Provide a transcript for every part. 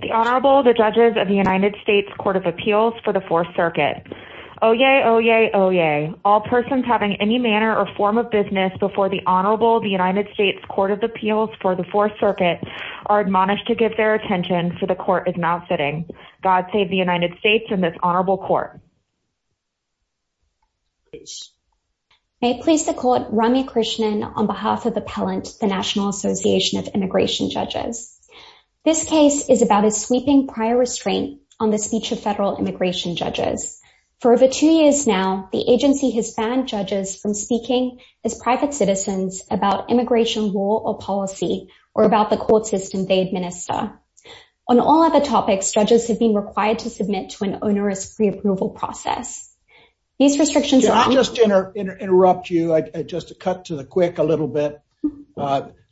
The Honorable, the Judges of the United States Court of Appeals for the Fourth Circuit. Oyez, oyez, oyez. All persons having any manner or form of business before the Honorable, the United States Court of Appeals for the Fourth Circuit are admonished to give their attention so the Court is not sitting. God save the United States and this Honorable Court. May it please the Court, Rami Krishnan on behalf of Appellant, the National Association of Immigration Judges. This case is about a sweeping prior restraint on the speech of federal immigration judges. For over two years now, the agency has banned judges from speaking as private citizens about immigration law or policy or about the court system they administer. On all other topics, judges have been required to submit to an onerous preapproval process. These restrictions are- I'll just interrupt you, just to cut to the quick a little bit.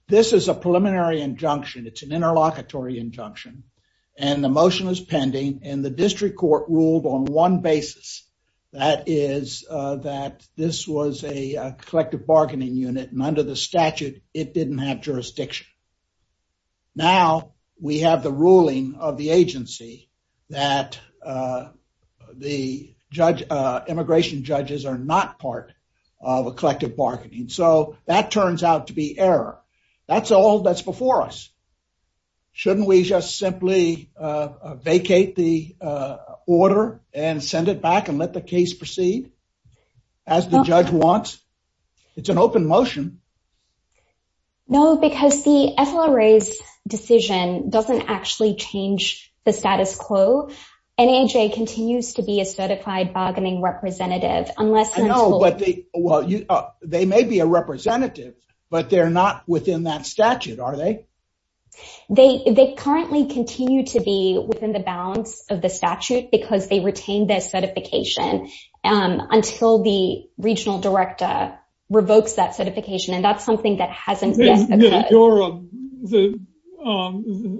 This is a preliminary injunction, it's an interlocutory injunction and the motion is pending and the district court ruled on one basis, that is that this was a collective bargaining unit and under the statute, it didn't have jurisdiction. Now, we have the ruling of the agency that the immigration judges are not part of a collective bargaining. So, that turns out to be error. That's all that's before us. Shouldn't we just simply vacate the order and send it back and let the case proceed as the judge wants? It's an open motion. No, because the FLRA's decision doesn't actually change the status quo. NAJ continues to be a certified bargaining representative unless- I know, but they may be a representative, but they're not within that statute, are they? They currently continue to be within the bounds of the statute because they retain their certification until the regional director revokes that certification and that's something that hasn't-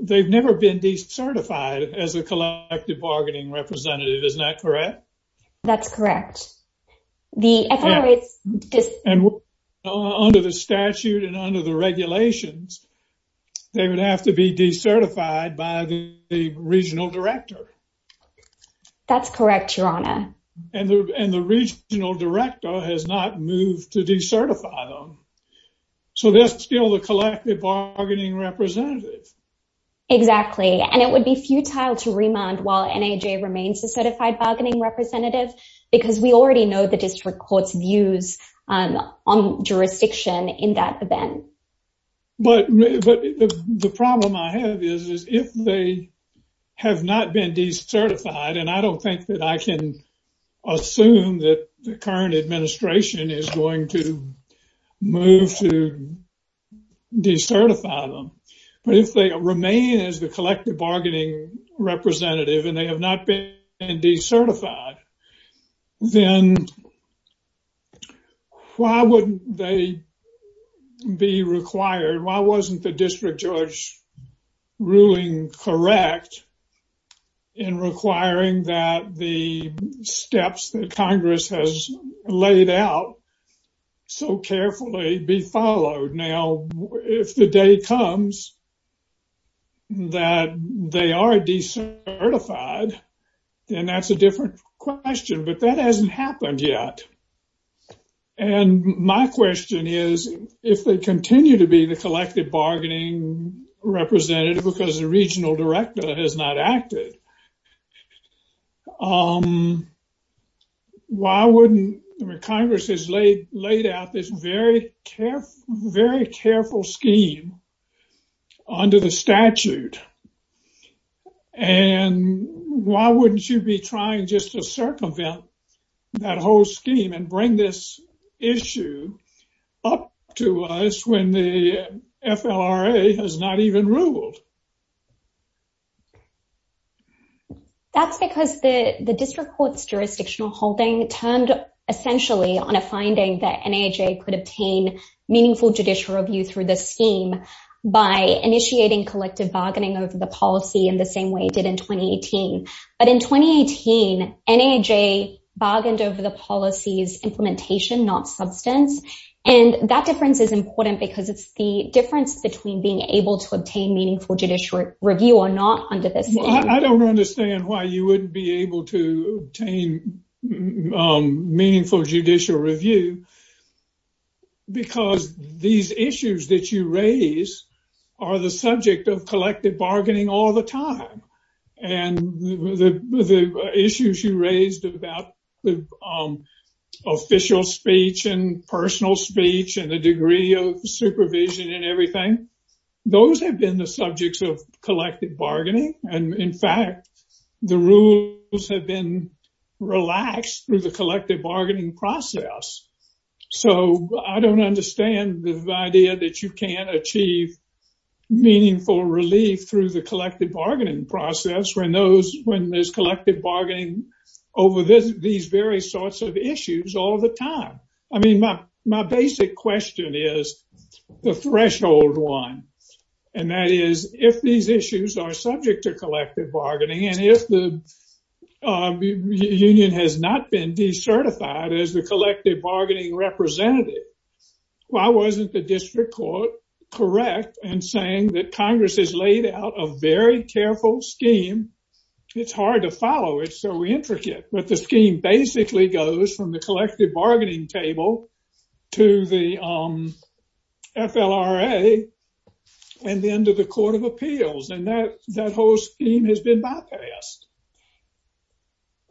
They've never been decertified as a collective bargaining representative, isn't that correct? That's correct. Under the statute and under the regulations, they would have to be decertified by the regional director. That's correct, Your Honor. And the regional director has not moved to decertify them. So, they're still a collective bargaining representative. Exactly, and it would be futile to remand while NAJ remains a certified bargaining representative because we already know the district court's views on jurisdiction in that event. But the problem I have is if they have not been decertified, and I don't think that I can assume that the current administration is going to move to decertify them, but if they remain as the collective bargaining representative and they have not been decertified, then why wouldn't they be required? Why wasn't the district judge ruling correct in requiring that the steps that Congress has laid out so carefully be followed? Now, if the day comes that they are decertified, then that's a different question, but that hasn't happened yet. And my question is, if they continue to be the collective bargaining representative because the regional director has not acted, why wouldn't Congress has laid out this very careful scheme under the statute? And why wouldn't you be trying just to circumvent that whole scheme and bring this issue up to us when the FLRA has not even ruled? That's because the district court's jurisdictional holding turned essentially on a finding that NAHA could obtain meaningful judicial review through the scheme by initiating collective bargaining over the policy in the same way it did in 2018. But in 2018, NAHA bargained over the policy's implementation, not substance. And that difference is important because it's the difference between being able to obtain meaningful judicial review or not under this. I don't understand why you wouldn't be able to obtain meaningful judicial review because these issues that you raise are the subject of collective bargaining all the time. And the issues you raised about the official speech and personal speech and the degree of supervision and everything, those have been the subjects of collective bargaining. And in fact, the rules have been relaxed through the collective bargaining process. So I don't understand the idea that you can't achieve meaningful relief through the collective bargaining process when there's collective bargaining over these various sorts of issues all the time. I mean, my basic question is the threshold one. And that is, if these issues are subject to collective bargaining, and if the union has not been decertified as the collective bargaining representative, why wasn't the district court correct in saying that Congress has laid out a very careful scheme? It's hard to follow. It's so intricate. But the scheme basically goes from the collective bargaining table to the FLRA and then to the Court of Appeals. And that whole scheme has been bypassed.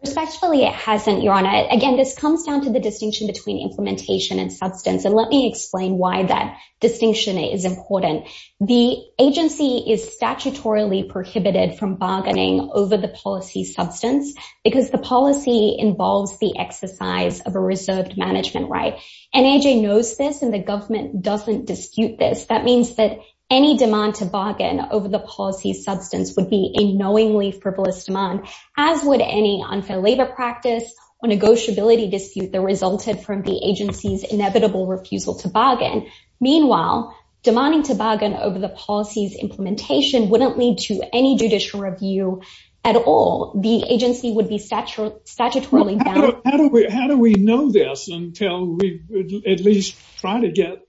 Respectfully, it hasn't, Your Honor. Again, this comes down to the distinction between implementation and substance. And let me explain why that distinction is important. The agency is statutorily prohibited from bargaining over the policy substance because the policy involves the exercise of a reserved management right. NAJ knows this, and the government doesn't dispute this. That means that any demand to bargain over the policy substance would be a knowingly frivolous demand, as would any unfair labor practice or negotiability dispute that resulted from the agency's inevitable refusal to bargain. Meanwhile, demanding to bargain over the policy's implementation wouldn't lead to any judicial review at all. The agency would be statutorily bound. How do we know this until we at least try to get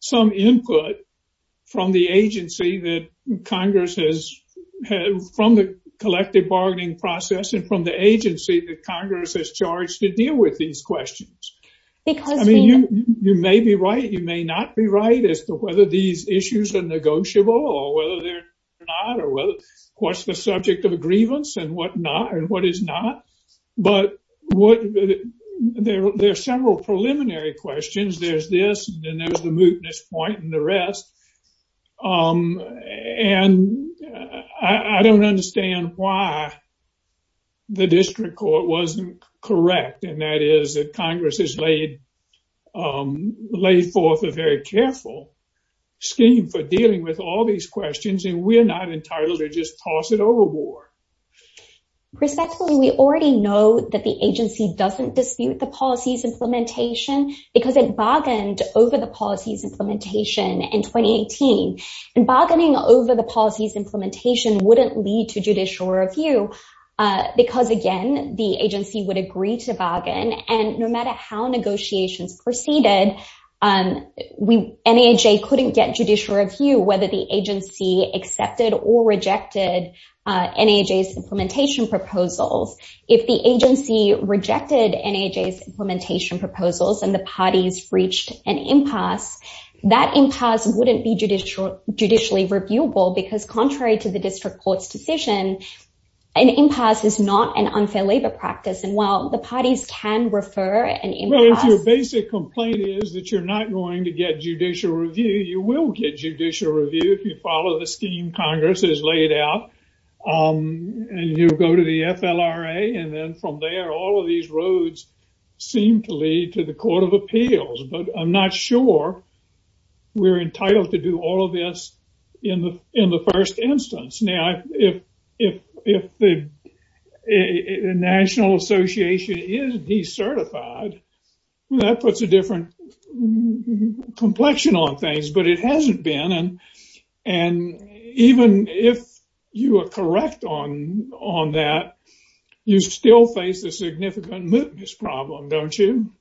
some input from the agency that Congress has, from the collective bargaining process and from the agency that Congress has charged to deal with these questions? I mean, you may be right, you may not be right as to whether these issues are negotiable or whether they're not, or what's the subject of a grievance and what is not. But there are several preliminary questions. There's this, and then there's the mootness point, and the rest. And I don't understand why the district court wasn't correct, and that is that Congress has laid forth a very careful scheme for dealing with all these questions, and we're not entitled to just toss it overboard. Respectfully, we already know that the agency doesn't dispute the policy's implementation because it bargained over the policy's implementation in 2018. And bargaining over the policy's implementation wouldn't lead to judicial review, because again, the agency would agree to bargain. And no matter how negotiations proceeded, NAJ couldn't get judicial review whether the agency accepted or rejected NAJ's implementation proposals. If the agency rejected NAJ's implementation proposals and the parties reached an impasse, that impasse wouldn't be judicially reviewable, because contrary to the district court's decision, an impasse is not an unfair labor practice. And while the parties can refer an impasse— which is that you're not going to get judicial review, you will get judicial review if you follow the scheme Congress has laid out. And you'll go to the FLRA, and then from there, all of these roads seem to lead to the Court of Appeals. But I'm not sure we're entitled to do all of this in the first instance. Now, if the National Association is decertified, that puts a different complexion on things, but it hasn't been. And even if you are correct on that, you still face a significant mootness problem, don't you?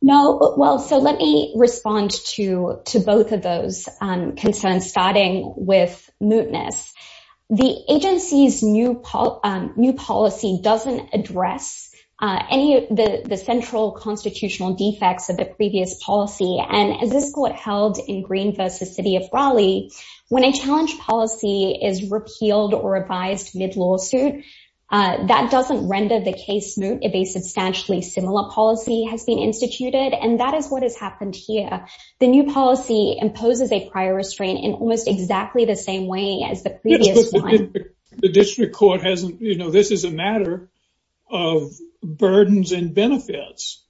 No. Well, so let me respond to both of those concerns, starting with mootness. The agency's new policy doesn't address any of the central constitutional defects of the previous policy. And as this Court held in Green v. City of Raleigh, when a challenge policy is repealed or revised mid-lawsuit, that doesn't render the case moot if a substantially similar policy has been instituted. And that is what has happened here. The new policy imposes a prior restraint in almost exactly the same way as the previous one. The district court hasn't—you know, this is a matter of burdens and benefits.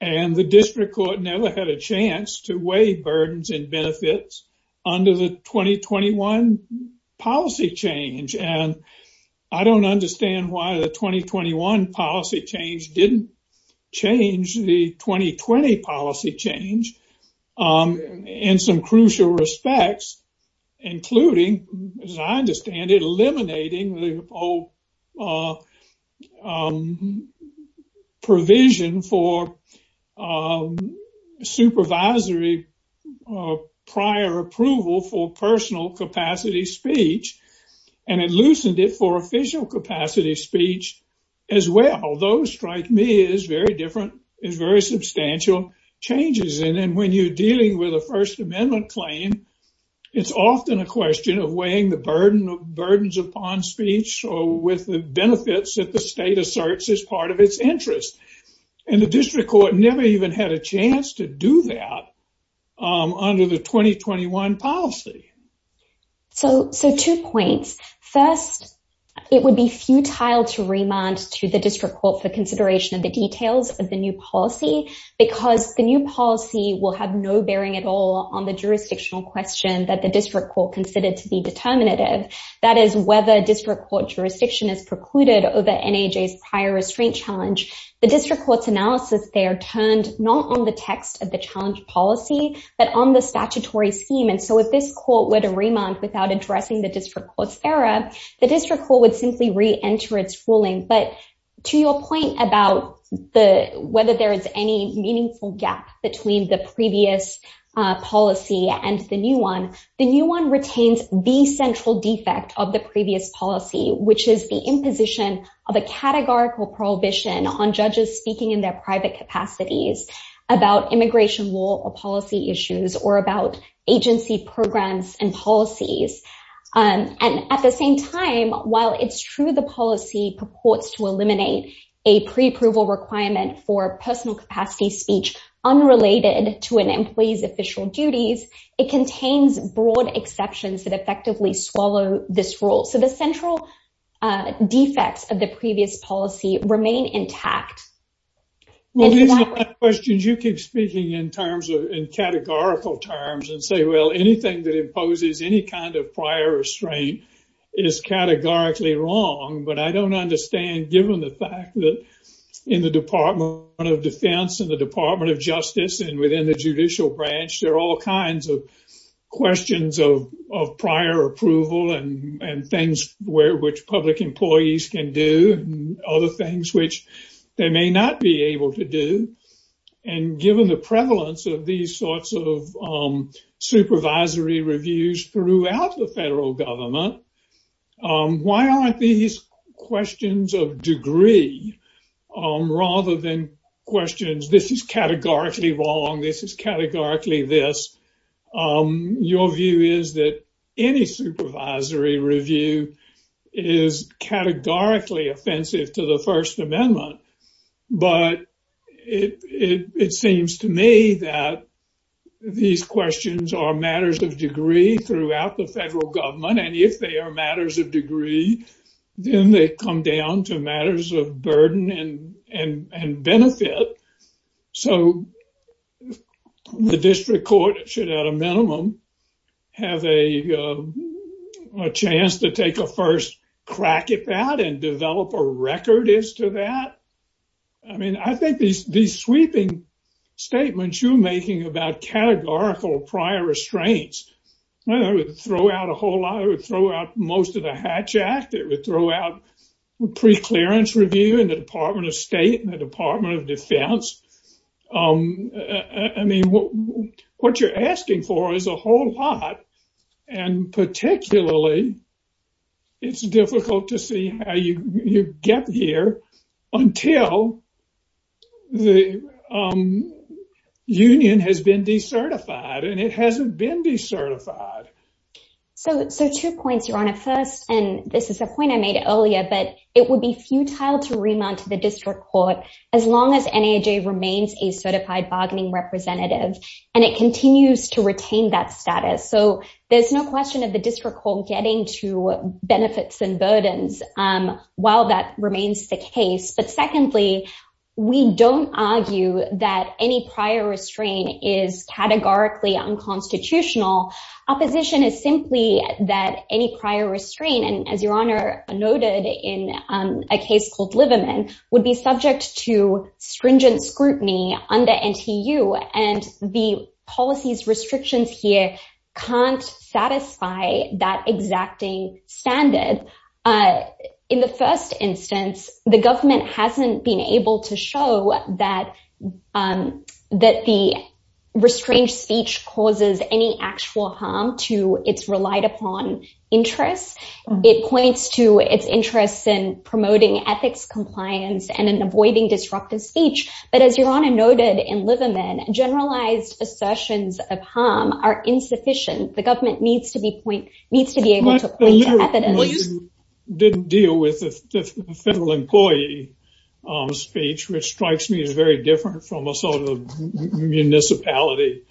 And the district court never had a chance to weigh burdens and benefits under the 2021 policy change. And I don't understand why the 2021 policy change didn't change the 2020 policy change in some crucial respects, including, as I understand it, eliminating the provision for supervisory prior approval for personal capacity speech. And it loosened it for official capacity speech as well. Those, strike me, is very different, is very substantial changes. And when you're dealing with a First Amendment claim, it's often a question of weighing the burden of burdens upon speech or with the benefits that the state asserts as part of its interest. And the district court never even had a chance to do that under the 2021 policy. So two points. First, it would be futile to remand to the district court for consideration of the details of the new policy because the new policy will have no bearing at all on the jurisdictional question that the district court considered to be determinative. That is, whether district court jurisdiction is precluded over NAJ's prior restraint challenge. The district court's analysis there turned not on the text of the challenge policy, but on the statutory scheme. And so if this court were to remand without addressing the district court's error, the district court would simply reenter its ruling. But to your point about the whether there is any meaningful gap between the previous policy and the new one, the new one retains the central defect of the previous policy, which is the imposition of a categorical prohibition on judges speaking in their private capacities about immigration law or policy issues or about agency programs and policies. And at the same time, while it's true the policy purports to eliminate a pre-approval requirement for personal capacity speech unrelated to an employee's official duties, it contains broad exceptions that effectively swallow this rule. So the central defects of the previous policy remain intact. Well, these are questions you keep speaking in terms of in categorical terms and say, well, anything that imposes any kind of prior restraint is categorically wrong. But I don't understand, given the fact that in the Department of Defense and the Department of Justice and within the judicial branch, there are all kinds of questions of prior approval and things where which public employees can do other things which they may not be able to do. And given the prevalence of these sorts of supervisory reviews throughout the federal government, why aren't these questions of degree rather than questions? This is categorically wrong. This is categorically this. Your view is that any supervisory review is categorically offensive to the First Amendment. But it seems to me that these questions are matters of degree throughout the federal government. And if they are matters of degree, then they come down to matters of burden and benefit. So the district court should, at a minimum, have a chance to take a first crack at that and develop a record as to that. I mean, I think these sweeping statements you're making about categorical prior restraints, I would throw out a whole lot, I would throw out most of the Hatch Act. It would throw out preclearance review in the Department of State and the Department of Defense. I mean, what you're asking for is a whole lot. And particularly. It's difficult to see how you get here until the union has been decertified and it hasn't been decertified. So two points, Your Honor. First, and this is a point I made earlier, but it would be futile to remount to the district court as long as NAJ remains a certified bargaining representative and it continues to retain that status. So there's no question of the district court getting to benefits and burdens while that remains the case. But secondly, we don't argue that any prior restraint is categorically unconstitutional. Opposition is simply that any prior restraint, and as Your Honor noted in a case called Liverman, would be subject to stringent scrutiny under NTU and the policies restrictions here can't satisfy that exacting standard. In the first instance, the government hasn't been able to show that the restrained speech causes any actual harm to its relied upon interests. It points to its interests in promoting ethics compliance and in avoiding disruptive speech. But as Your Honor noted in Liverman, generalized assertions of harm are insufficient. The government needs to be able to point to evidence. You didn't deal with the federal employee speech, which strikes me as very different from a sort of municipality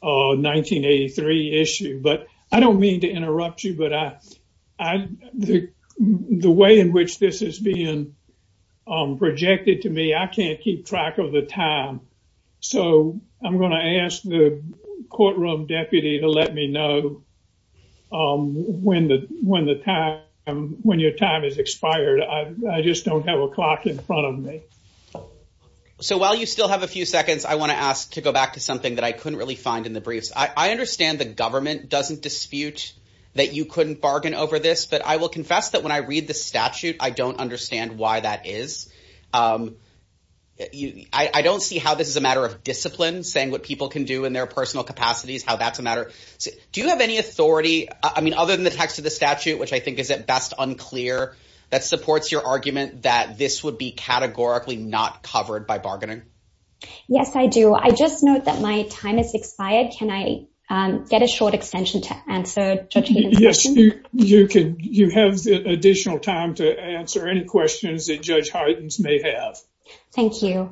1983 issue. But I don't mean to interrupt you, but the way in which this is being projected to me, I can't keep track of the time. So I'm going to ask the courtroom deputy to let me know when the when the time when your time is expired. I just don't have a clock in front of me. So while you still have a few seconds, I want to ask to go back to something that I couldn't really find in the briefs. I understand the government doesn't dispute that you couldn't bargain over this. But I will confess that when I read the statute, I don't understand why that is. I don't see how this is a matter of discipline, saying what people can do in their personal capacities, how that's a matter. Do you have any authority? I mean, other than the text of the statute, which I think is at best unclear, that supports your argument that this would be categorically not covered by bargaining? Yes, I do. I just note that my time is expired. Can I get a short extension to answer? Yes, you can. You have additional time to answer any questions that Judge Harden's may have. Thank you.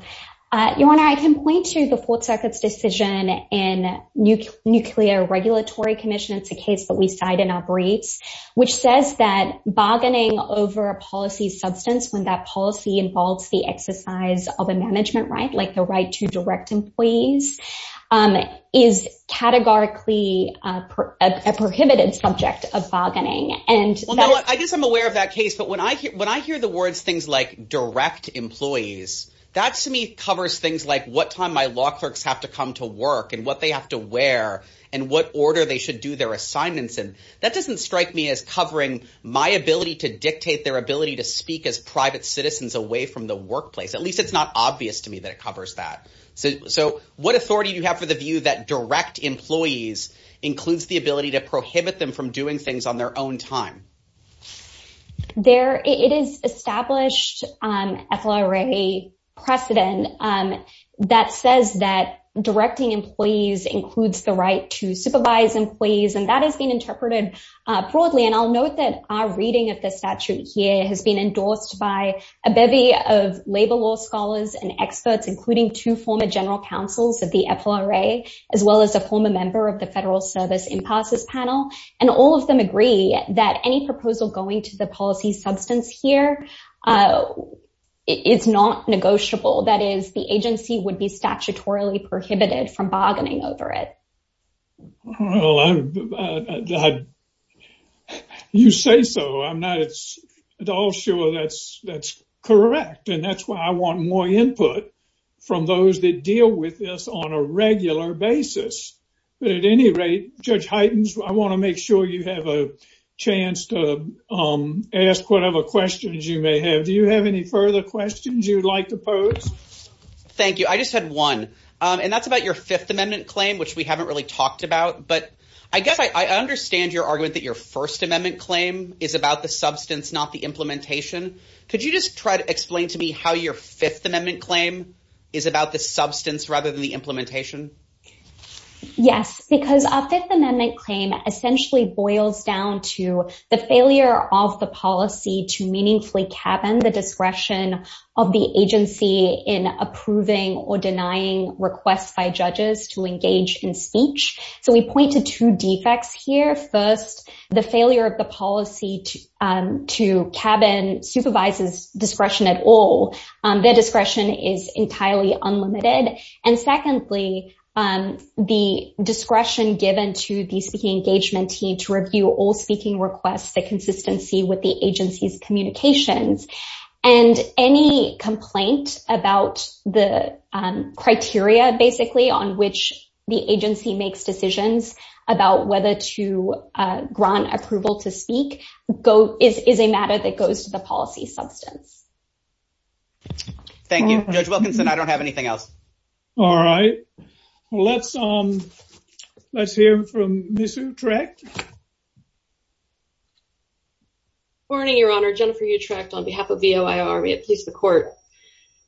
Your Honor, I can point to the Fourth Circuit's decision in Nuclear Regulatory Commission. It's a case that we cite in our briefs, which says that bargaining over a policy substance, when that policy involves the exercise of a management right, like the right to direct employees, is categorically a prohibited subject of bargaining. I guess I'm aware of that case. But when I hear the words things like direct employees, that to me covers things like what time my law clerks have to come to work and what they have to wear and what order they should do their assignments in. That doesn't strike me as covering my ability to dictate their ability to speak as private citizens away from the workplace. At least it's not obvious to me that it covers that. So what authority do you have for the view that direct employees includes the ability to prohibit them from doing things on their own time? It is established FLRA precedent that says that directing employees includes the right to supervise employees, and that has been interpreted broadly. And I'll note that our reading of the statute here has been endorsed by a bevy of labor law scholars and experts, including two former general counsels of the FLRA, as well as a former member of the Federal Service Impasses Panel. And all of them agree that any proposal going to the policy substance here is not negotiable. That is, the agency would be statutorily prohibited from bargaining over it. Well, you say so. I'm not at all sure that's correct. And that's why I want more input from those that deal with this on a regular basis. But at any rate, Judge Heitens, I want to make sure you have a chance to ask whatever questions you may have. Do you have any further questions you'd like to pose? Thank you. I just had one, and that's about your Fifth Amendment claim, which we haven't really talked about. But I guess I understand your argument that your First Amendment claim is about the substance, not the implementation. Could you just try to explain to me how your Fifth Amendment claim is about the substance rather than the implementation? Yes, because our Fifth Amendment claim essentially boils down to the failure of the policy to meaningfully cabin the discretion of the agency in approving or denying requests by judges to engage in speech. So we point to two defects here. First, the failure of the policy to cabin supervises discretion at all. Their discretion is entirely unlimited. And secondly, the discretion given to the speaking engagement team to review all speaking requests, the consistency with the agency's communications and any complaint about the criteria, basically, on which the agency makes decisions about whether to grant approval to speak is a matter that goes to the policy substance. Thank you, Judge Wilkinson. I don't have anything else. All right. Well, let's let's hear from Ms. Utrecht. Morning, Your Honor. Jennifer Utrecht on behalf of the Ohio Army, at least the court.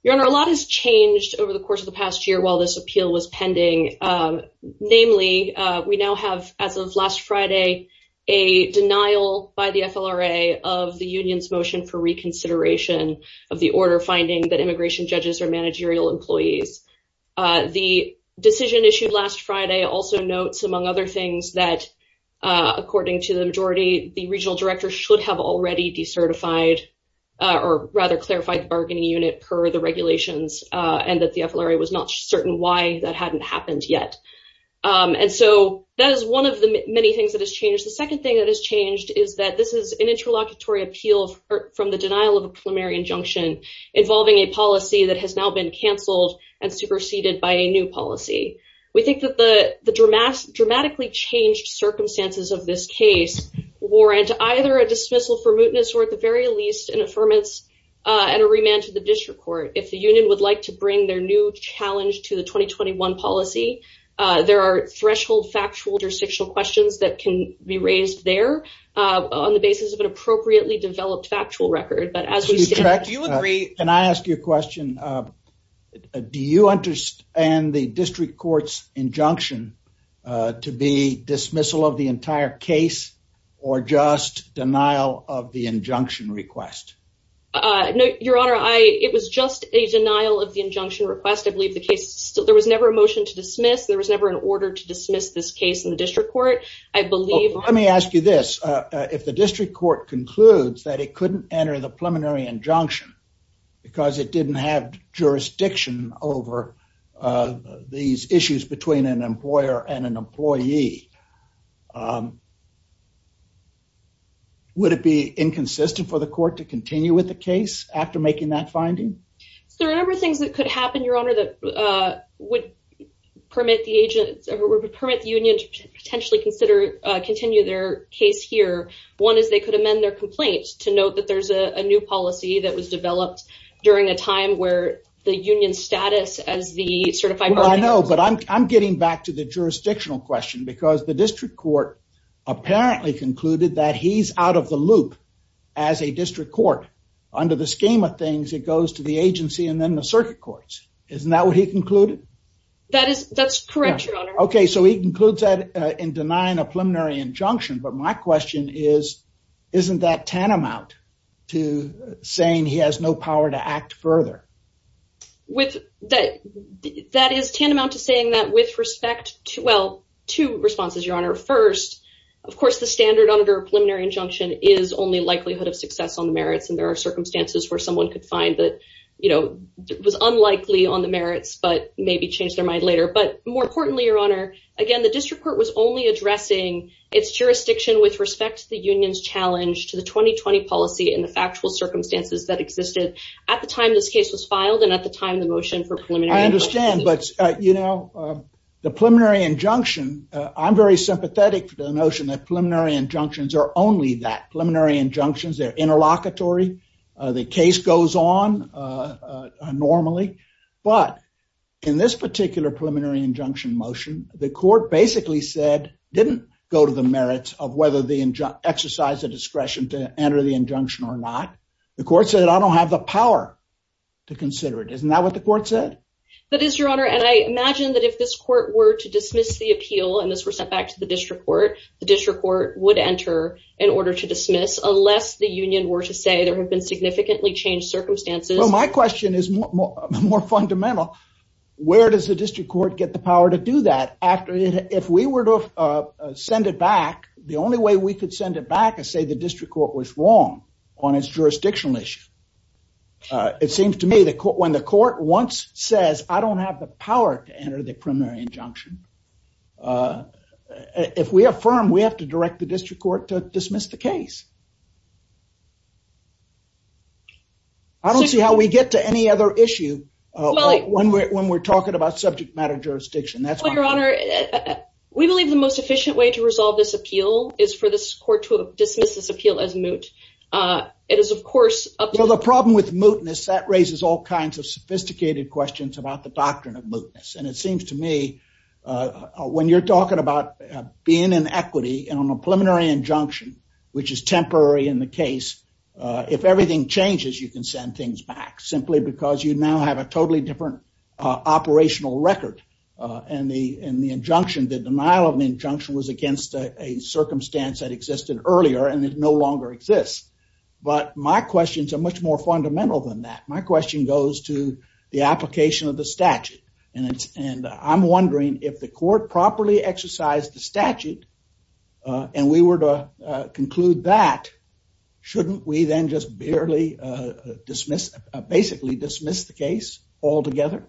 Your Honor, a lot has changed over the course of the past year while this appeal was pending. Namely, we now have, as of last Friday, a denial by the FLRA of the union's motion for reconsideration of the order, finding that immigration judges are managerial employees. The decision issued last Friday also notes, among other things, that according to the majority, the regional director should have already decertified or rather clarified the bargaining unit per the regulations and that the FLRA was not certain why that hadn't happened yet. And so that is one of the many things that has changed. The second thing that has changed is that this is an interlocutory appeal from the denial of a preliminary injunction involving a policy that has now been canceled and superseded by a new policy. We think that the the dramatic dramatically changed circumstances of this case warrant either a dismissal for mootness or at the very least an affirmance and a remand to the district court. If the union would like to bring their new challenge to the 2021 policy, there are threshold factual jurisdictional questions that can be raised there on the basis of an appropriately developed factual record. Can I ask you a question? Do you understand the district court's injunction to be dismissal of the entire case or just denial of the injunction request? Your Honor, it was just a denial of the injunction request. I believe the case still there was never a motion to dismiss. There was never an order to dismiss this case in the district court. Let me ask you this. If the district court concludes that it couldn't enter the preliminary injunction because it didn't have jurisdiction over these issues between an employer and an employee. Would it be inconsistent for the court to continue with the case after making that finding? There are a number of things that could happen, Your Honor, that would permit the union to potentially continue their case here. One is they could amend their complaints to note that there's a new policy that was developed during a time where the union status as the certified... I know, but I'm getting back to the jurisdictional question because the district court apparently concluded that he's out of the loop as a district court. Under the scheme of things, it goes to the agency and then the circuit courts. Isn't that what he concluded? That's correct, Your Honor. Okay, so he concludes that in denying a preliminary injunction. But my question is, isn't that tantamount to saying he has no power to act further? That is tantamount to saying that with respect to, well, two responses, Your Honor. Of course, the standard under a preliminary injunction is only likelihood of success on the merits. And there are circumstances where someone could find that, you know, it was unlikely on the merits, but maybe change their mind later. But more importantly, Your Honor, again, the district court was only addressing its jurisdiction with respect to the union's challenge to the 2020 policy and the factual circumstances that existed at the time this case was filed and at the time the motion for preliminary... It's pathetic, the notion that preliminary injunctions are only that. Preliminary injunctions, they're interlocutory. The case goes on normally. But in this particular preliminary injunction motion, the court basically said, didn't go to the merits of whether the exercise of discretion to enter the injunction or not. The court said, I don't have the power to consider it. Isn't that what the court said? That is, Your Honor. And I imagine that if this court were to dismiss the appeal and this were sent back to the district court, the district court would enter in order to dismiss unless the union were to say there have been significantly changed circumstances. Well, my question is more fundamental. Where does the district court get the power to do that? If we were to send it back, the only way we could send it back and say the district court was wrong on its jurisdictional issue. It seems to me that when the court once says, I don't have the power to enter the preliminary injunction, if we affirm, we have to direct the district court to dismiss the case. I don't see how we get to any other issue when we're talking about subject matter jurisdiction. Well, Your Honor, we believe the most efficient way to resolve this appeal is for this court to dismiss this appeal as moot. The problem with mootness, that raises all kinds of sophisticated questions about the doctrine of mootness. And it seems to me when you're talking about being in equity and on a preliminary injunction, which is temporary in the case, if everything changes, you can send things back simply because you now have a totally different operational record. And the injunction, the denial of the injunction was against a circumstance that existed earlier and it no longer exists. But my questions are much more fundamental than that. My question goes to the application of the statute. And I'm wondering if the court properly exercised the statute and we were to conclude that, shouldn't we then just basically dismiss the case altogether?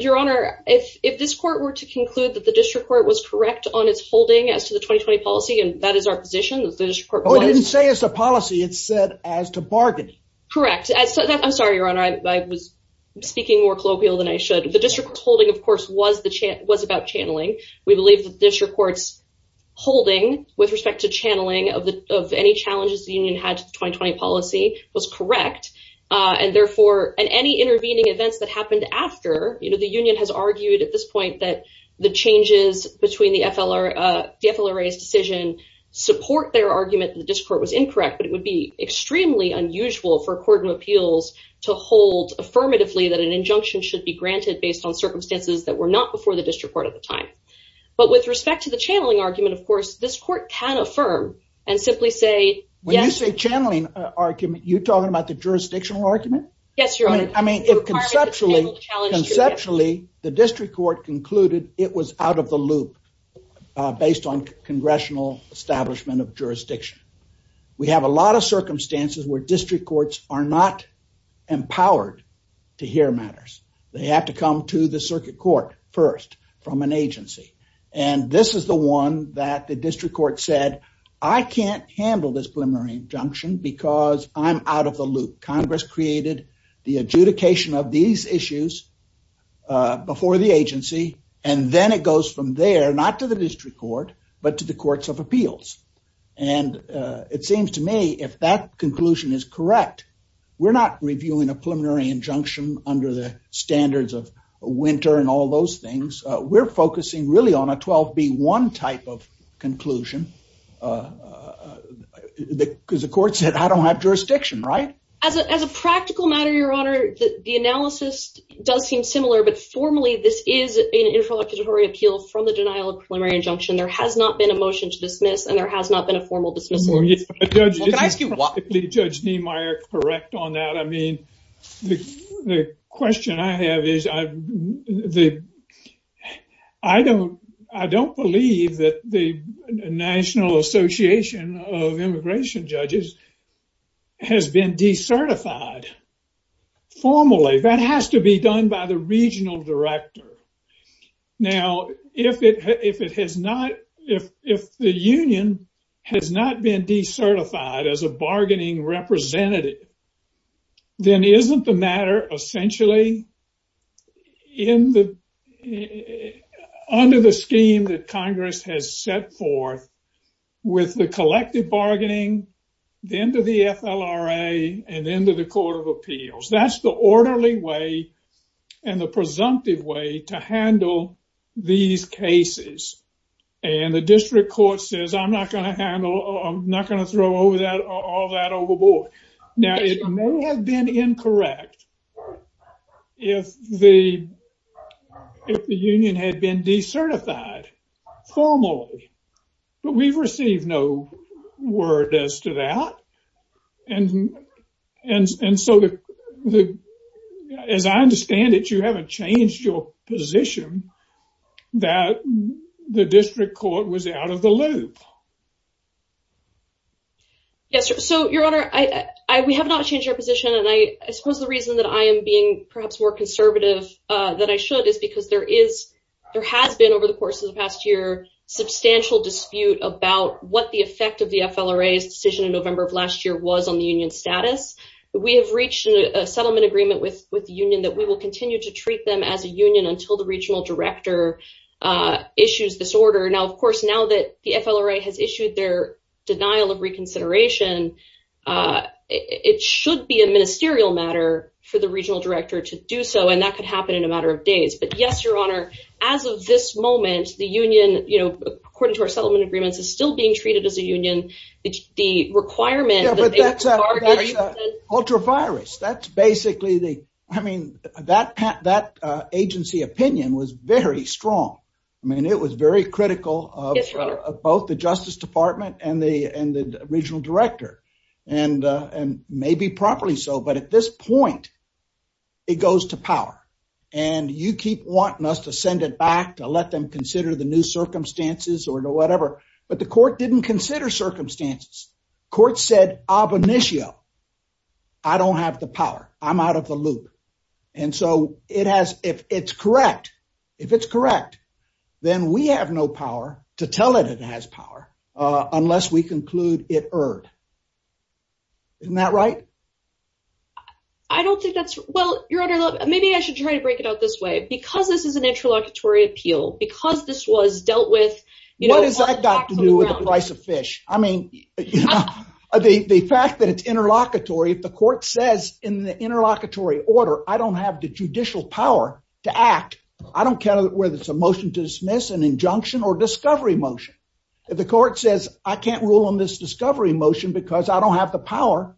Your Honor, if this court were to conclude that the district court was correct on its holding as to the 2020 policy, and that is our position. Oh, it didn't say it's a policy, it said as to bargaining. Correct. I'm sorry, Your Honor, I was speaking more colloquial than I should. The district holding, of course, was about channeling. We believe the district court's holding with respect to channeling of any challenges the union had to the 2020 policy was correct. And any intervening events that happened after, the union has argued at this point that the changes between the FLRA's decision support their argument that the district court was incorrect. But it would be extremely unusual for a court of appeals to hold affirmatively that an injunction should be granted based on circumstances that were not before the district court at the time. But with respect to the channeling argument, of course, this court can affirm and simply say, yes. When you say channeling argument, you're talking about the jurisdictional argument? Yes, Your Honor. I mean, conceptually, the district court concluded it was out of the loop based on congressional establishment of jurisdiction. We have a lot of circumstances where district courts are not empowered to hear matters. They have to come to the circuit court first from an agency. And this is the one that the district court said, I can't handle this preliminary injunction because I'm out of the loop. Congress created the adjudication of these issues before the agency. And then it goes from there, not to the district court, but to the courts of appeals. And it seems to me if that conclusion is correct, we're not reviewing a preliminary injunction under the standards of winter and all those things. We're focusing really on a 12B1 type of conclusion because the court said I don't have jurisdiction, right? As a practical matter, Your Honor, the analysis does seem similar. But formally, this is an interlocutory appeal from the denial of preliminary injunction. There has not been a motion to dismiss and there has not been a formal dismissal. Judge, is Judge Niemeyer correct on that? I mean, the question I have is I don't believe that the National Association of Immigration Judges has been decertified formally. That has to be done by the regional director. Now, if it has not, if the union has not been decertified as a bargaining representative, then isn't the matter essentially under the scheme that Congress has set forth with the collective bargaining, then to the FLRA and then to the court of appeals. That's the orderly way and the presumptive way to handle these cases. And the district court says I'm not going to handle, I'm not going to throw all that overboard. Now, it may have been incorrect if the union had been decertified formally, but we've received no word as to that. And so, as I understand it, you haven't changed your position that the district court was out of the loop. Yes. So, Your Honor, we have not changed our position. And I suppose the reason that I am being perhaps more conservative than I should is because there is, there has been over the course of the past year, substantial dispute about what the effect of the FLRA's decision in November of last year was on the union status. We have reached a settlement agreement with the union that we will continue to treat them as a union until the regional director issues this order. Now, of course, now that the FLRA has issued their denial of reconsideration, it should be a ministerial matter for the regional director to do so. But yes, Your Honor, as of this moment, the union, you know, according to our settlement agreements, is still being treated as a union. It's the requirement. Ultra virus. That's basically the, I mean, that agency opinion was very strong. I mean, it was very critical of both the Justice Department and the regional director and maybe properly so. But at this point, it goes to power. And you keep wanting us to send it back to let them consider the new circumstances or whatever. But the court didn't consider circumstances. Court said ab initio. I don't have the power. I'm out of the loop. And so it has, if it's correct, if it's correct, then we have no power to tell it it has power unless we conclude it erred. Isn't that right? I don't think that's well, Your Honor. Maybe I should try to break it out this way. Because this is an interlocutory appeal, because this was dealt with. What does that got to do with the price of fish? I mean, the fact that it's interlocutory, if the court says in the interlocutory order, I don't have the judicial power to act. I don't care whether it's a motion to dismiss an injunction or discovery motion. If the court says, I can't rule on this discovery motion because I don't have the power.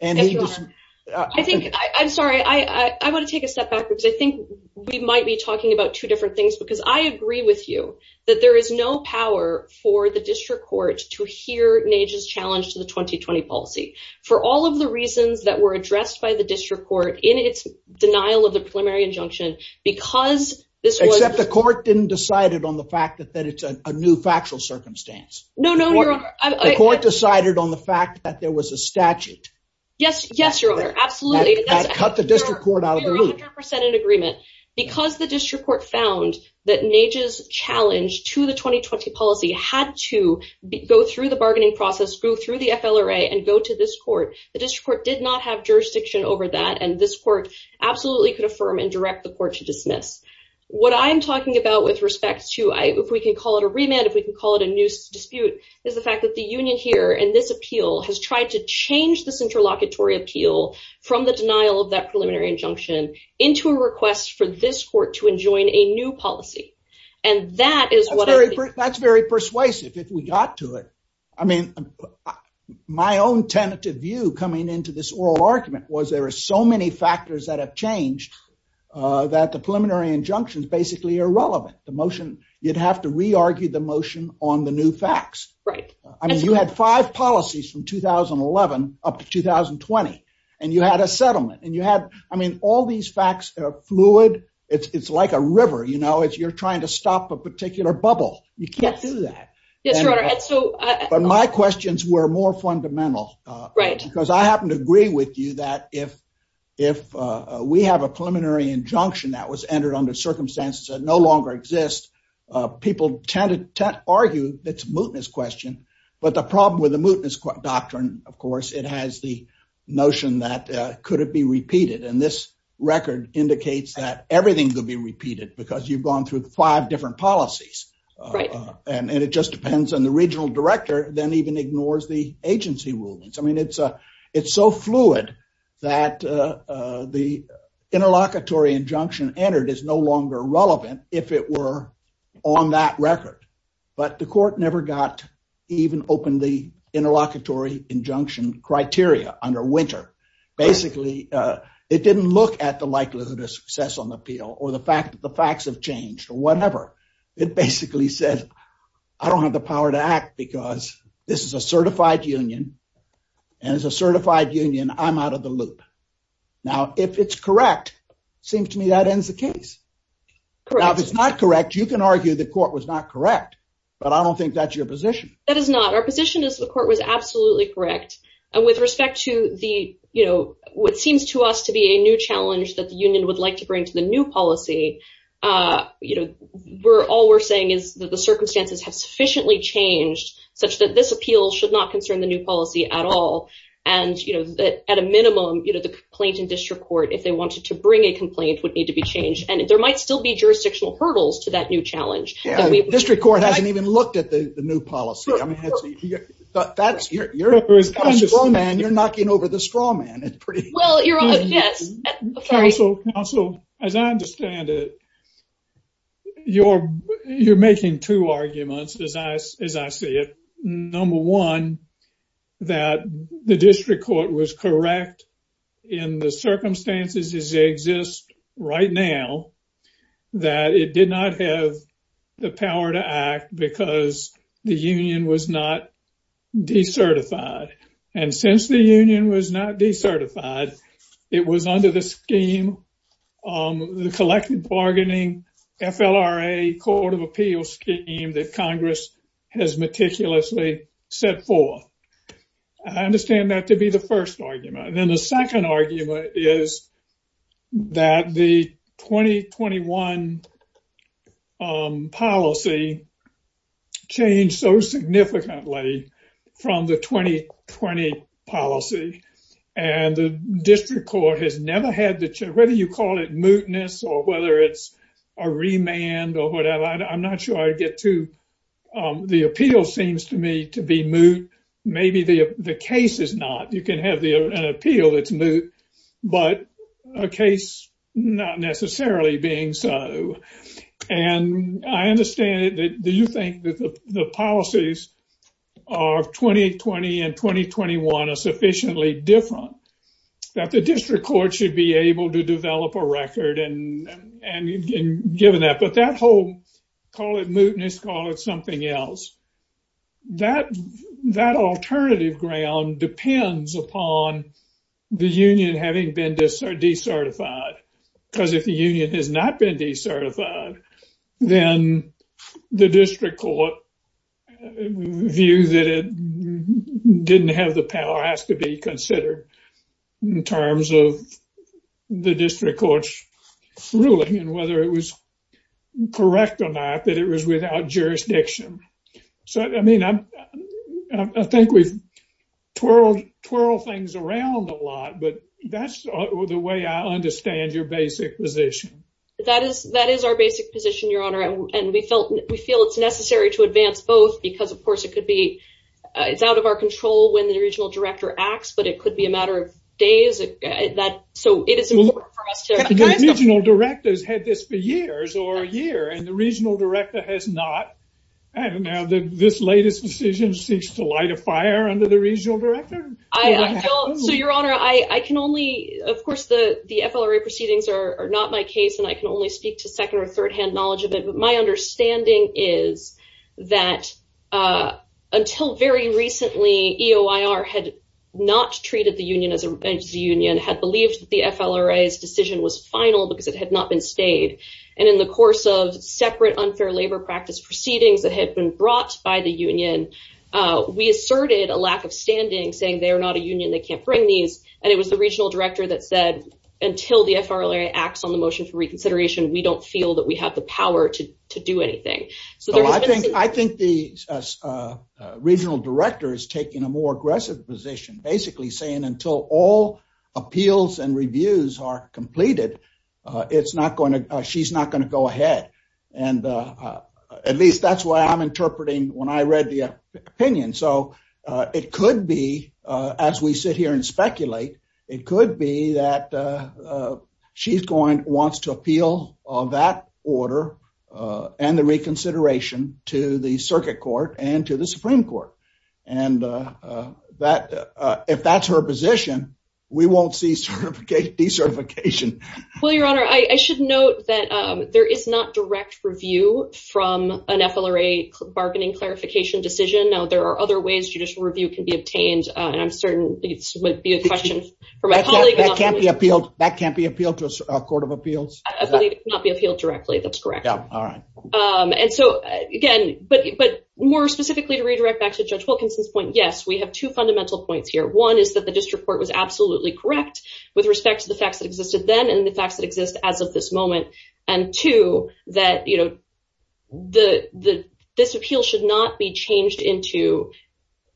And I think I'm sorry, I want to take a step backwards. I think we might be talking about two different things, because I agree with you that there is no power for the district court to hear Nage's challenge to the 2020 policy for all of the reasons that were addressed by the district court in its denial of the preliminary injunction. Except the court didn't decide it on the fact that it's a new factual circumstance. No, no, Your Honor. The court decided on the fact that there was a statute. Yes, yes, Your Honor. Absolutely. That cut the district court out of the loop. You're 100% in agreement. Because the district court found that Nage's challenge to the 2020 policy had to go through the bargaining process, go through the FLRA and go to this court. The district court did not have jurisdiction over that and this court absolutely could affirm and direct the court to dismiss. What I'm talking about with respect to, if we can call it a remand, if we can call it a new dispute, is the fact that the union here and this appeal has tried to change this interlocutory appeal from the denial of that preliminary injunction into a request for this court to enjoin a new policy. That's very persuasive if we got to it. I mean, my own tentative view coming into this oral argument was there are so many factors that have changed that the preliminary injunction is basically irrelevant. The motion, you'd have to re-argue the motion on the new facts. Right. I mean, you had five policies from 2011 up to 2020 and you had a settlement and you had, I mean, all these facts are fluid. It's like a river, you know, if you're trying to stop a particular bubble, you can't do that. Yes, Your Honor. But my questions were more fundamental. Right. Because I happen to agree with you that if we have a preliminary injunction that was entered under circumstances that no longer exist, people tend to argue it's a mootness question. But the problem with the mootness doctrine, of course, it has the notion that could it be repeated? And this record indicates that everything could be repeated because you've gone through five different policies. Right. And it just depends on the regional director then even ignores the agency rulings. I mean, it's so fluid that the interlocutory injunction entered is no longer relevant if it were on that record. But the court never got even open the interlocutory injunction criteria under Winter. Basically, it didn't look at the likelihood of success on the appeal or the fact that the facts have changed or whatever. It basically said, I don't have the power to act because this is a certified union. And as a certified union, I'm out of the loop. Now, if it's correct, seems to me that ends the case. If it's not correct, you can argue the court was not correct. But I don't think that's your position. That is not our position is the court was absolutely correct. And with respect to the you know, what seems to us to be a new challenge that the union would like to bring to the new policy. You know, we're all we're saying is that the circumstances have sufficiently changed such that this appeal should not concern the new policy at all. And, you know, at a minimum, you know, the complaint in district court, if they wanted to bring a complaint would need to be changed. And there might still be jurisdictional hurdles to that new challenge. District court hasn't even looked at the new policy. I mean, that's your man. You're knocking over the straw man. Well, yes. Also, as I understand it. You're you're making two arguments, as I as I see it. Number one, that the district court was correct in the circumstances as they exist right now, that it did not have the power to act because the union was not decertified. And since the union was not decertified, it was under the scheme, the collective bargaining FLRA Court of Appeals scheme that Congress has meticulously set forth. I understand that to be the first argument. And then the second argument is that the 2021 policy changed so significantly from the 2020 policy. And the district court has never had that. Whether you call it mootness or whether it's a remand or whatever. I'm not sure I get to. The appeal seems to me to be moot. Maybe the case is not. You can have the appeal that's moot, but a case not necessarily being so. And I understand that. Do you think that the policies of 2020 and 2021 are sufficiently different that the district court should be able to develop a record and given that? But that whole call it mootness, call it something else. That alternative ground depends upon the union having been decertified. Because if the union has not been decertified, then the district court view that it didn't have the power has to be considered in terms of the district court's ruling and whether it was correct or not, that it was without jurisdiction. So, I mean, I think we've twirled things around a lot, but that's the way I understand your basic position. That is our basic position, Your Honor. And we feel it's necessary to advance both because, of course, it's out of our control when the regional director acts, but it could be a matter of days. Regional directors had this for years or a year and the regional director has not. And now this latest decision seeks to light a fire under the regional director. So, Your Honor, I can only, of course, the FLRA proceedings are not my case and I can only speak to second or third hand knowledge of it. But my understanding is that until very recently, EOIR had not treated the union as a union, had believed the FLRA's decision was final because it had not been stayed. And in the course of separate unfair labor practice proceedings that had been brought by the union, we asserted a lack of standing, saying they are not a union, they can't bring these. And it was the regional director that said until the FLRA acts on the motion for reconsideration, we don't feel that we have the power to do anything. I think the regional director is taking a more aggressive position, basically saying until all appeals and reviews are completed, she's not going to go ahead. And at least that's what I'm interpreting when I read the opinion. And so it could be as we sit here and speculate, it could be that she's going wants to appeal that order and the reconsideration to the circuit court and to the Supreme Court. And that if that's her position, we won't see certification, decertification. Well, Your Honor, I should note that there is not direct review from an FLRA bargaining clarification decision. Now, there are other ways judicial review can be obtained, and I'm certain this would be a question for my colleague. That can't be appealed. That can't be appealed to a court of appeals. Not be appealed directly. That's correct. All right. And so, again, but but more specifically to redirect back to Judge Wilkinson's point. Yes, we have two fundamental points here. One is that the district court was absolutely correct with respect to the facts that existed then and the facts that exist as of this moment. And two, that, you know, the the this appeal should not be changed into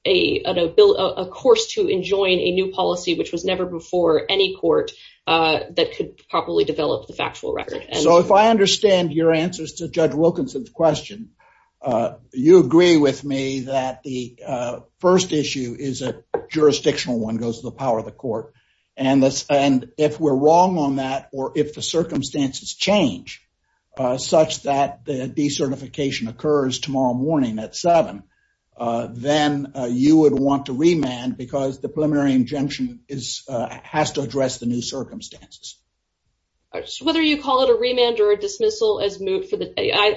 a bill, of course, to enjoin a new policy, which was never before any court that could properly develop the factual record. So if I understand your answers to Judge Wilkinson's question, you agree with me that the first issue is a jurisdictional one goes to the power of the court. And this and if we're wrong on that, or if the circumstances change such that the decertification occurs tomorrow morning at seven, then you would want to remand because the preliminary injunction is has to address the new circumstances. Whether you call it a remand or a dismissal as moot for the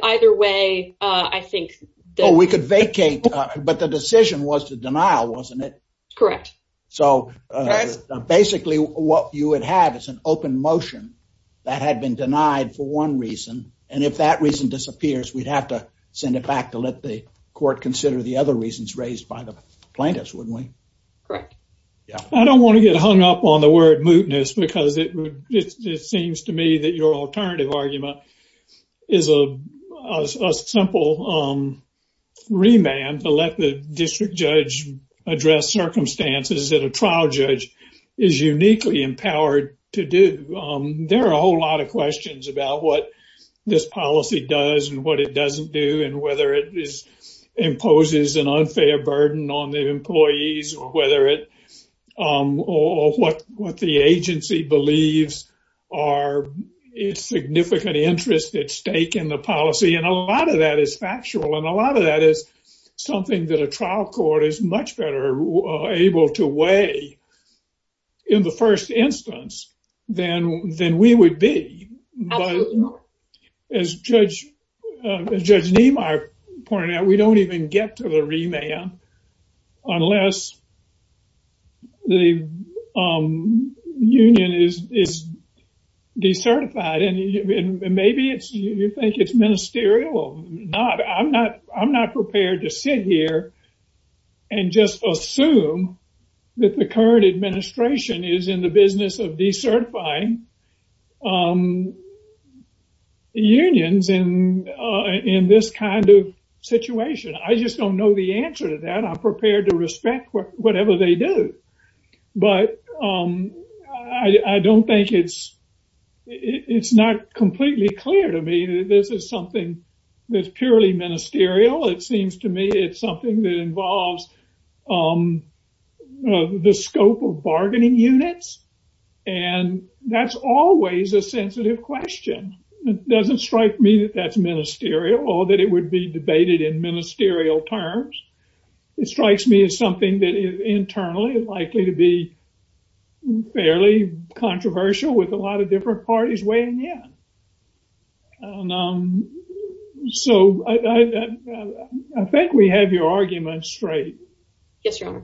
either way, I think that we could vacate. But the decision was to denial, wasn't it? Correct. So basically, what you would have is an open motion that had been denied for one reason. And if that reason disappears, we'd have to send it back to let the court consider the other reasons raised by the plaintiffs, wouldn't we? Correct. I don't want to get hung up on the word mootness because it seems to me that your alternative argument is a simple remand to let the district judge address circumstances that a trial judge is uniquely empowered to do. There are a whole lot of questions about what this policy does and what it doesn't do and whether it is imposes an unfair burden on the employees or whether it or what what the agency believes are its significant interest at stake in the policy. And a lot of that is factual and a lot of that is something that a trial court is much better able to weigh in the first instance than than we would be. As Judge Niemeyer pointed out, we don't even get to the remand unless the union is decertified and maybe you think it's ministerial. No, I'm not. I'm not prepared to sit here and just assume that the current administration is in the business of decertifying unions in this kind of situation. I just don't know the answer to that. I'm prepared to respect whatever they do. But I don't think it's it's not completely clear to me that this is something that's purely ministerial. It seems to me it's something that involves the scope of bargaining units. And that's always a sensitive question. It doesn't strike me that that's ministerial or that it would be debated in ministerial terms. It strikes me as something that is internally likely to be fairly controversial with a lot of different parties weighing in. So I think we have your argument straight. Yes, Your Honor.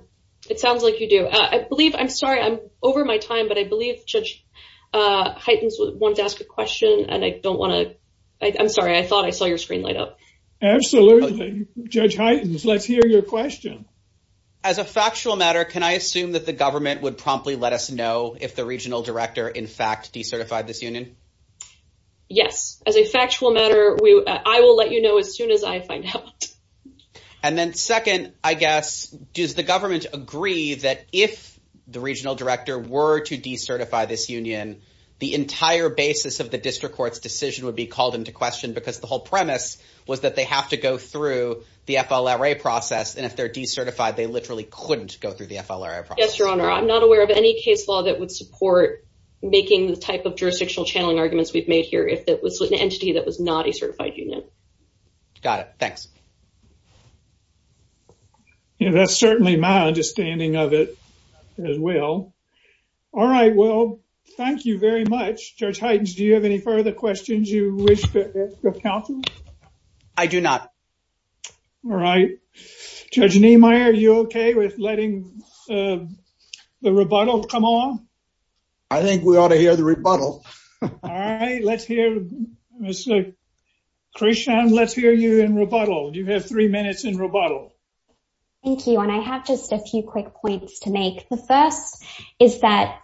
It sounds like you do. I believe I'm sorry I'm over my time, but I believe Judge Hytens wanted to ask a question and I don't want to. I'm sorry. I thought I saw your screen light up. Absolutely. Judge Hytens, let's hear your question. As a factual matter, can I assume that the government would promptly let us know if the regional director, in fact, decertified this union? Yes. As a factual matter, I will let you know as soon as I find out. And then second, I guess, does the government agree that if the regional director were to decertify this union, the entire basis of the district court's decision would be called into question because the whole premise was that they have to go through the FLRA process. And if they're decertified, they literally couldn't go through the FLRA process. Yes, Your Honor. I'm not aware of any case law that would support making the type of jurisdictional channeling arguments we've made here if it was an entity that was not a certified union. Got it. Thanks. That's certainly my understanding of it as well. All right. Well, thank you very much. Judge Hytens, do you have any further questions you wish to counsel? I do not. All right. Judge Niemeyer, are you okay with letting the rebuttal come on? I think we ought to hear the rebuttal. All right. Let's hear. Krishan, let's hear you in rebuttal. You have three minutes in rebuttal. Thank you. And I have just a few quick points to make. The first is that,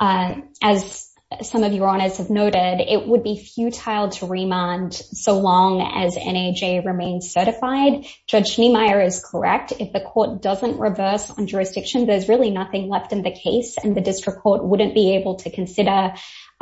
as some of your honors have noted, it would be futile to remand so long as NAJ remains certified. Judge Niemeyer is correct. If the court doesn't reverse on jurisdiction, there's really nothing left in the case, and the district court wouldn't be able to consider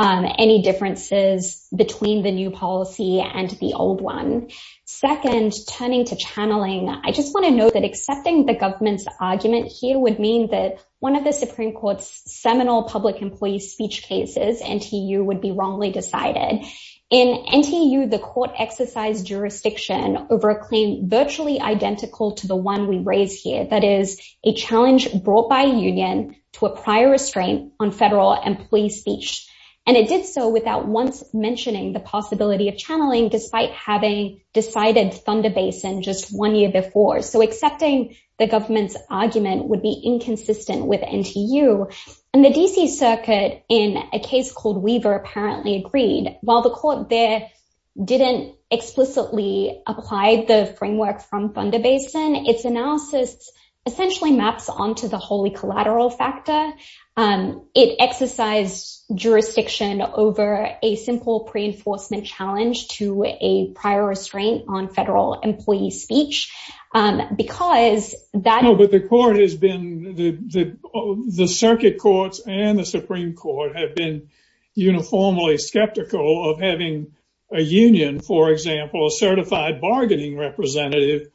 any differences between the new policy and the old one. Second, turning to channeling, I just want to note that accepting the government's argument here would mean that one of the Supreme Court's seminal public employee speech cases, NTU, would be wrongly decided. In NTU, the court exercised jurisdiction over a claim virtually identical to the one we raise here, that is, a challenge brought by a union to a prior restraint on federal employee speech. And it did so without once mentioning the possibility of channeling, despite having decided Thunder Basin just one year before. So accepting the government's argument would be inconsistent with NTU. And the D.C. Circuit, in a case called Weaver, apparently agreed. While the court there didn't explicitly apply the framework from Thunder Basin, its analysis essentially maps onto the wholly collateral factor. It exercised jurisdiction over a simple pre-enforcement challenge to a prior restraint on federal employee speech because that... The circuit courts and the Supreme Court have been uniformly skeptical of having a union, for example, a certified bargaining representative,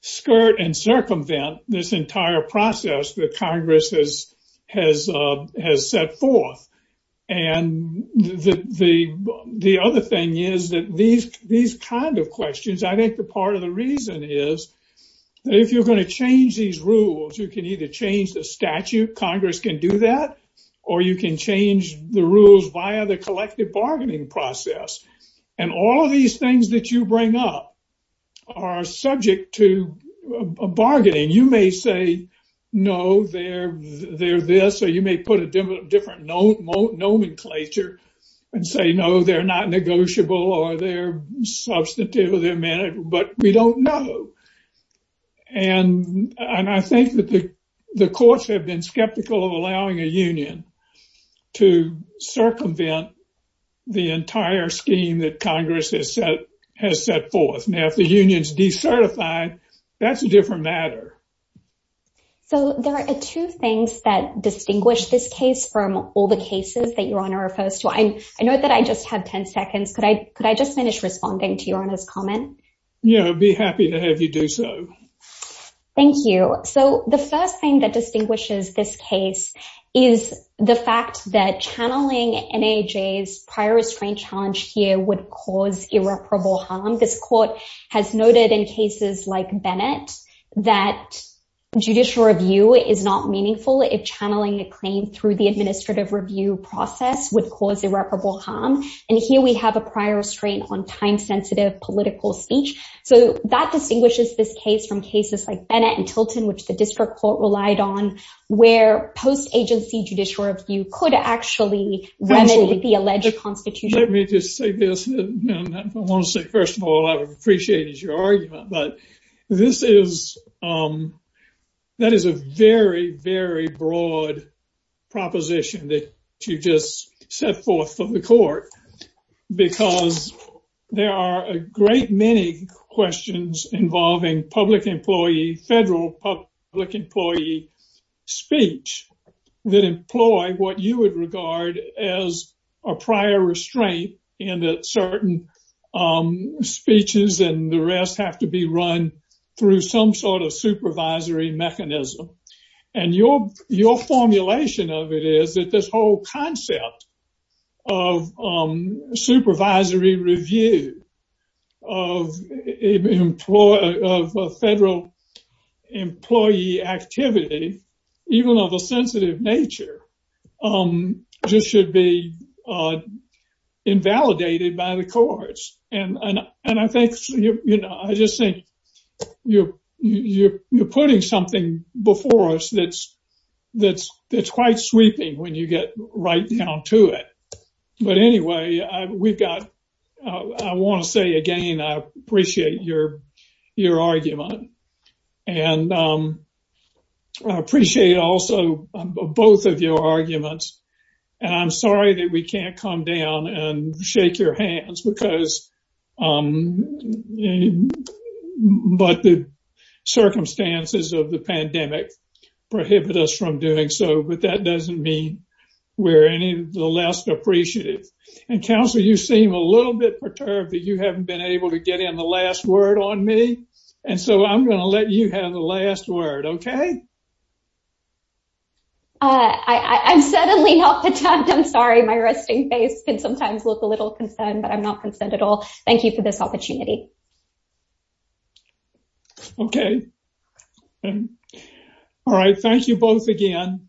skirt and circumvent this entire process that Congress has set forth. And the other thing is that these kind of questions, I think the part of the reason is that if you're going to change these rules, you can either change the statute, Congress can do that, or you can change the rules via the collective bargaining process. And all of these things that you bring up are subject to bargaining. You may say, no, they're this, or you may put a different nomenclature and say, no, they're not negotiable or they're substantive or they're manageable, but we don't know. And I think that the courts have been skeptical of allowing a union to circumvent the entire scheme that Congress has set forth. Now, if the union's decertified, that's a different matter. So there are two things that distinguish this case from all the cases that Your Honor are opposed to. I know that I just had 10 seconds. Could I just finish responding to Your Honor's comment? Yeah, I'd be happy to have you do so. Thank you. So the first thing that distinguishes this case is the fact that channeling NAJ's prior restraint challenge here would cause irreparable harm. I think this court has noted in cases like Bennett that judicial review is not meaningful if channeling a claim through the administrative review process would cause irreparable harm. And here we have a prior restraint on time-sensitive political speech. So that distinguishes this case from cases like Bennett and Tilton, which the district court relied on, where post-agency judicial review could actually remedy the alleged constitution. Let me just say this. I want to say, first of all, I would appreciate your argument, but that is a very, very broad proposition that you just set forth for the court. Because there are a great many questions involving public employee, federal public employee speech that employ what you would regard as a prior restraint in that certain speeches and the rest have to be run through some sort of supervisory mechanism. And your formulation of it is that this whole concept of supervisory review of federal employee activity, even of a sensitive nature, just should be invalidated by the courts. And I just think you're putting something before us that's quite sweeping when you get right down to it. But anyway, I want to say again, I appreciate your argument. And I appreciate also both of your arguments. And I'm sorry that we can't come down and shake your hands because, but the circumstances of the pandemic prohibit us from doing so, but that doesn't mean we're any less appreciative. And counsel, you seem a little bit perturbed that you haven't been able to get in the last word on me. And so I'm going to let you have the last word. Okay. I'm suddenly not the type. I'm sorry. My resting face can sometimes look a little concerned, but I'm not concerned at all. Thank you for this opportunity. Okay. All right. Thank you both again.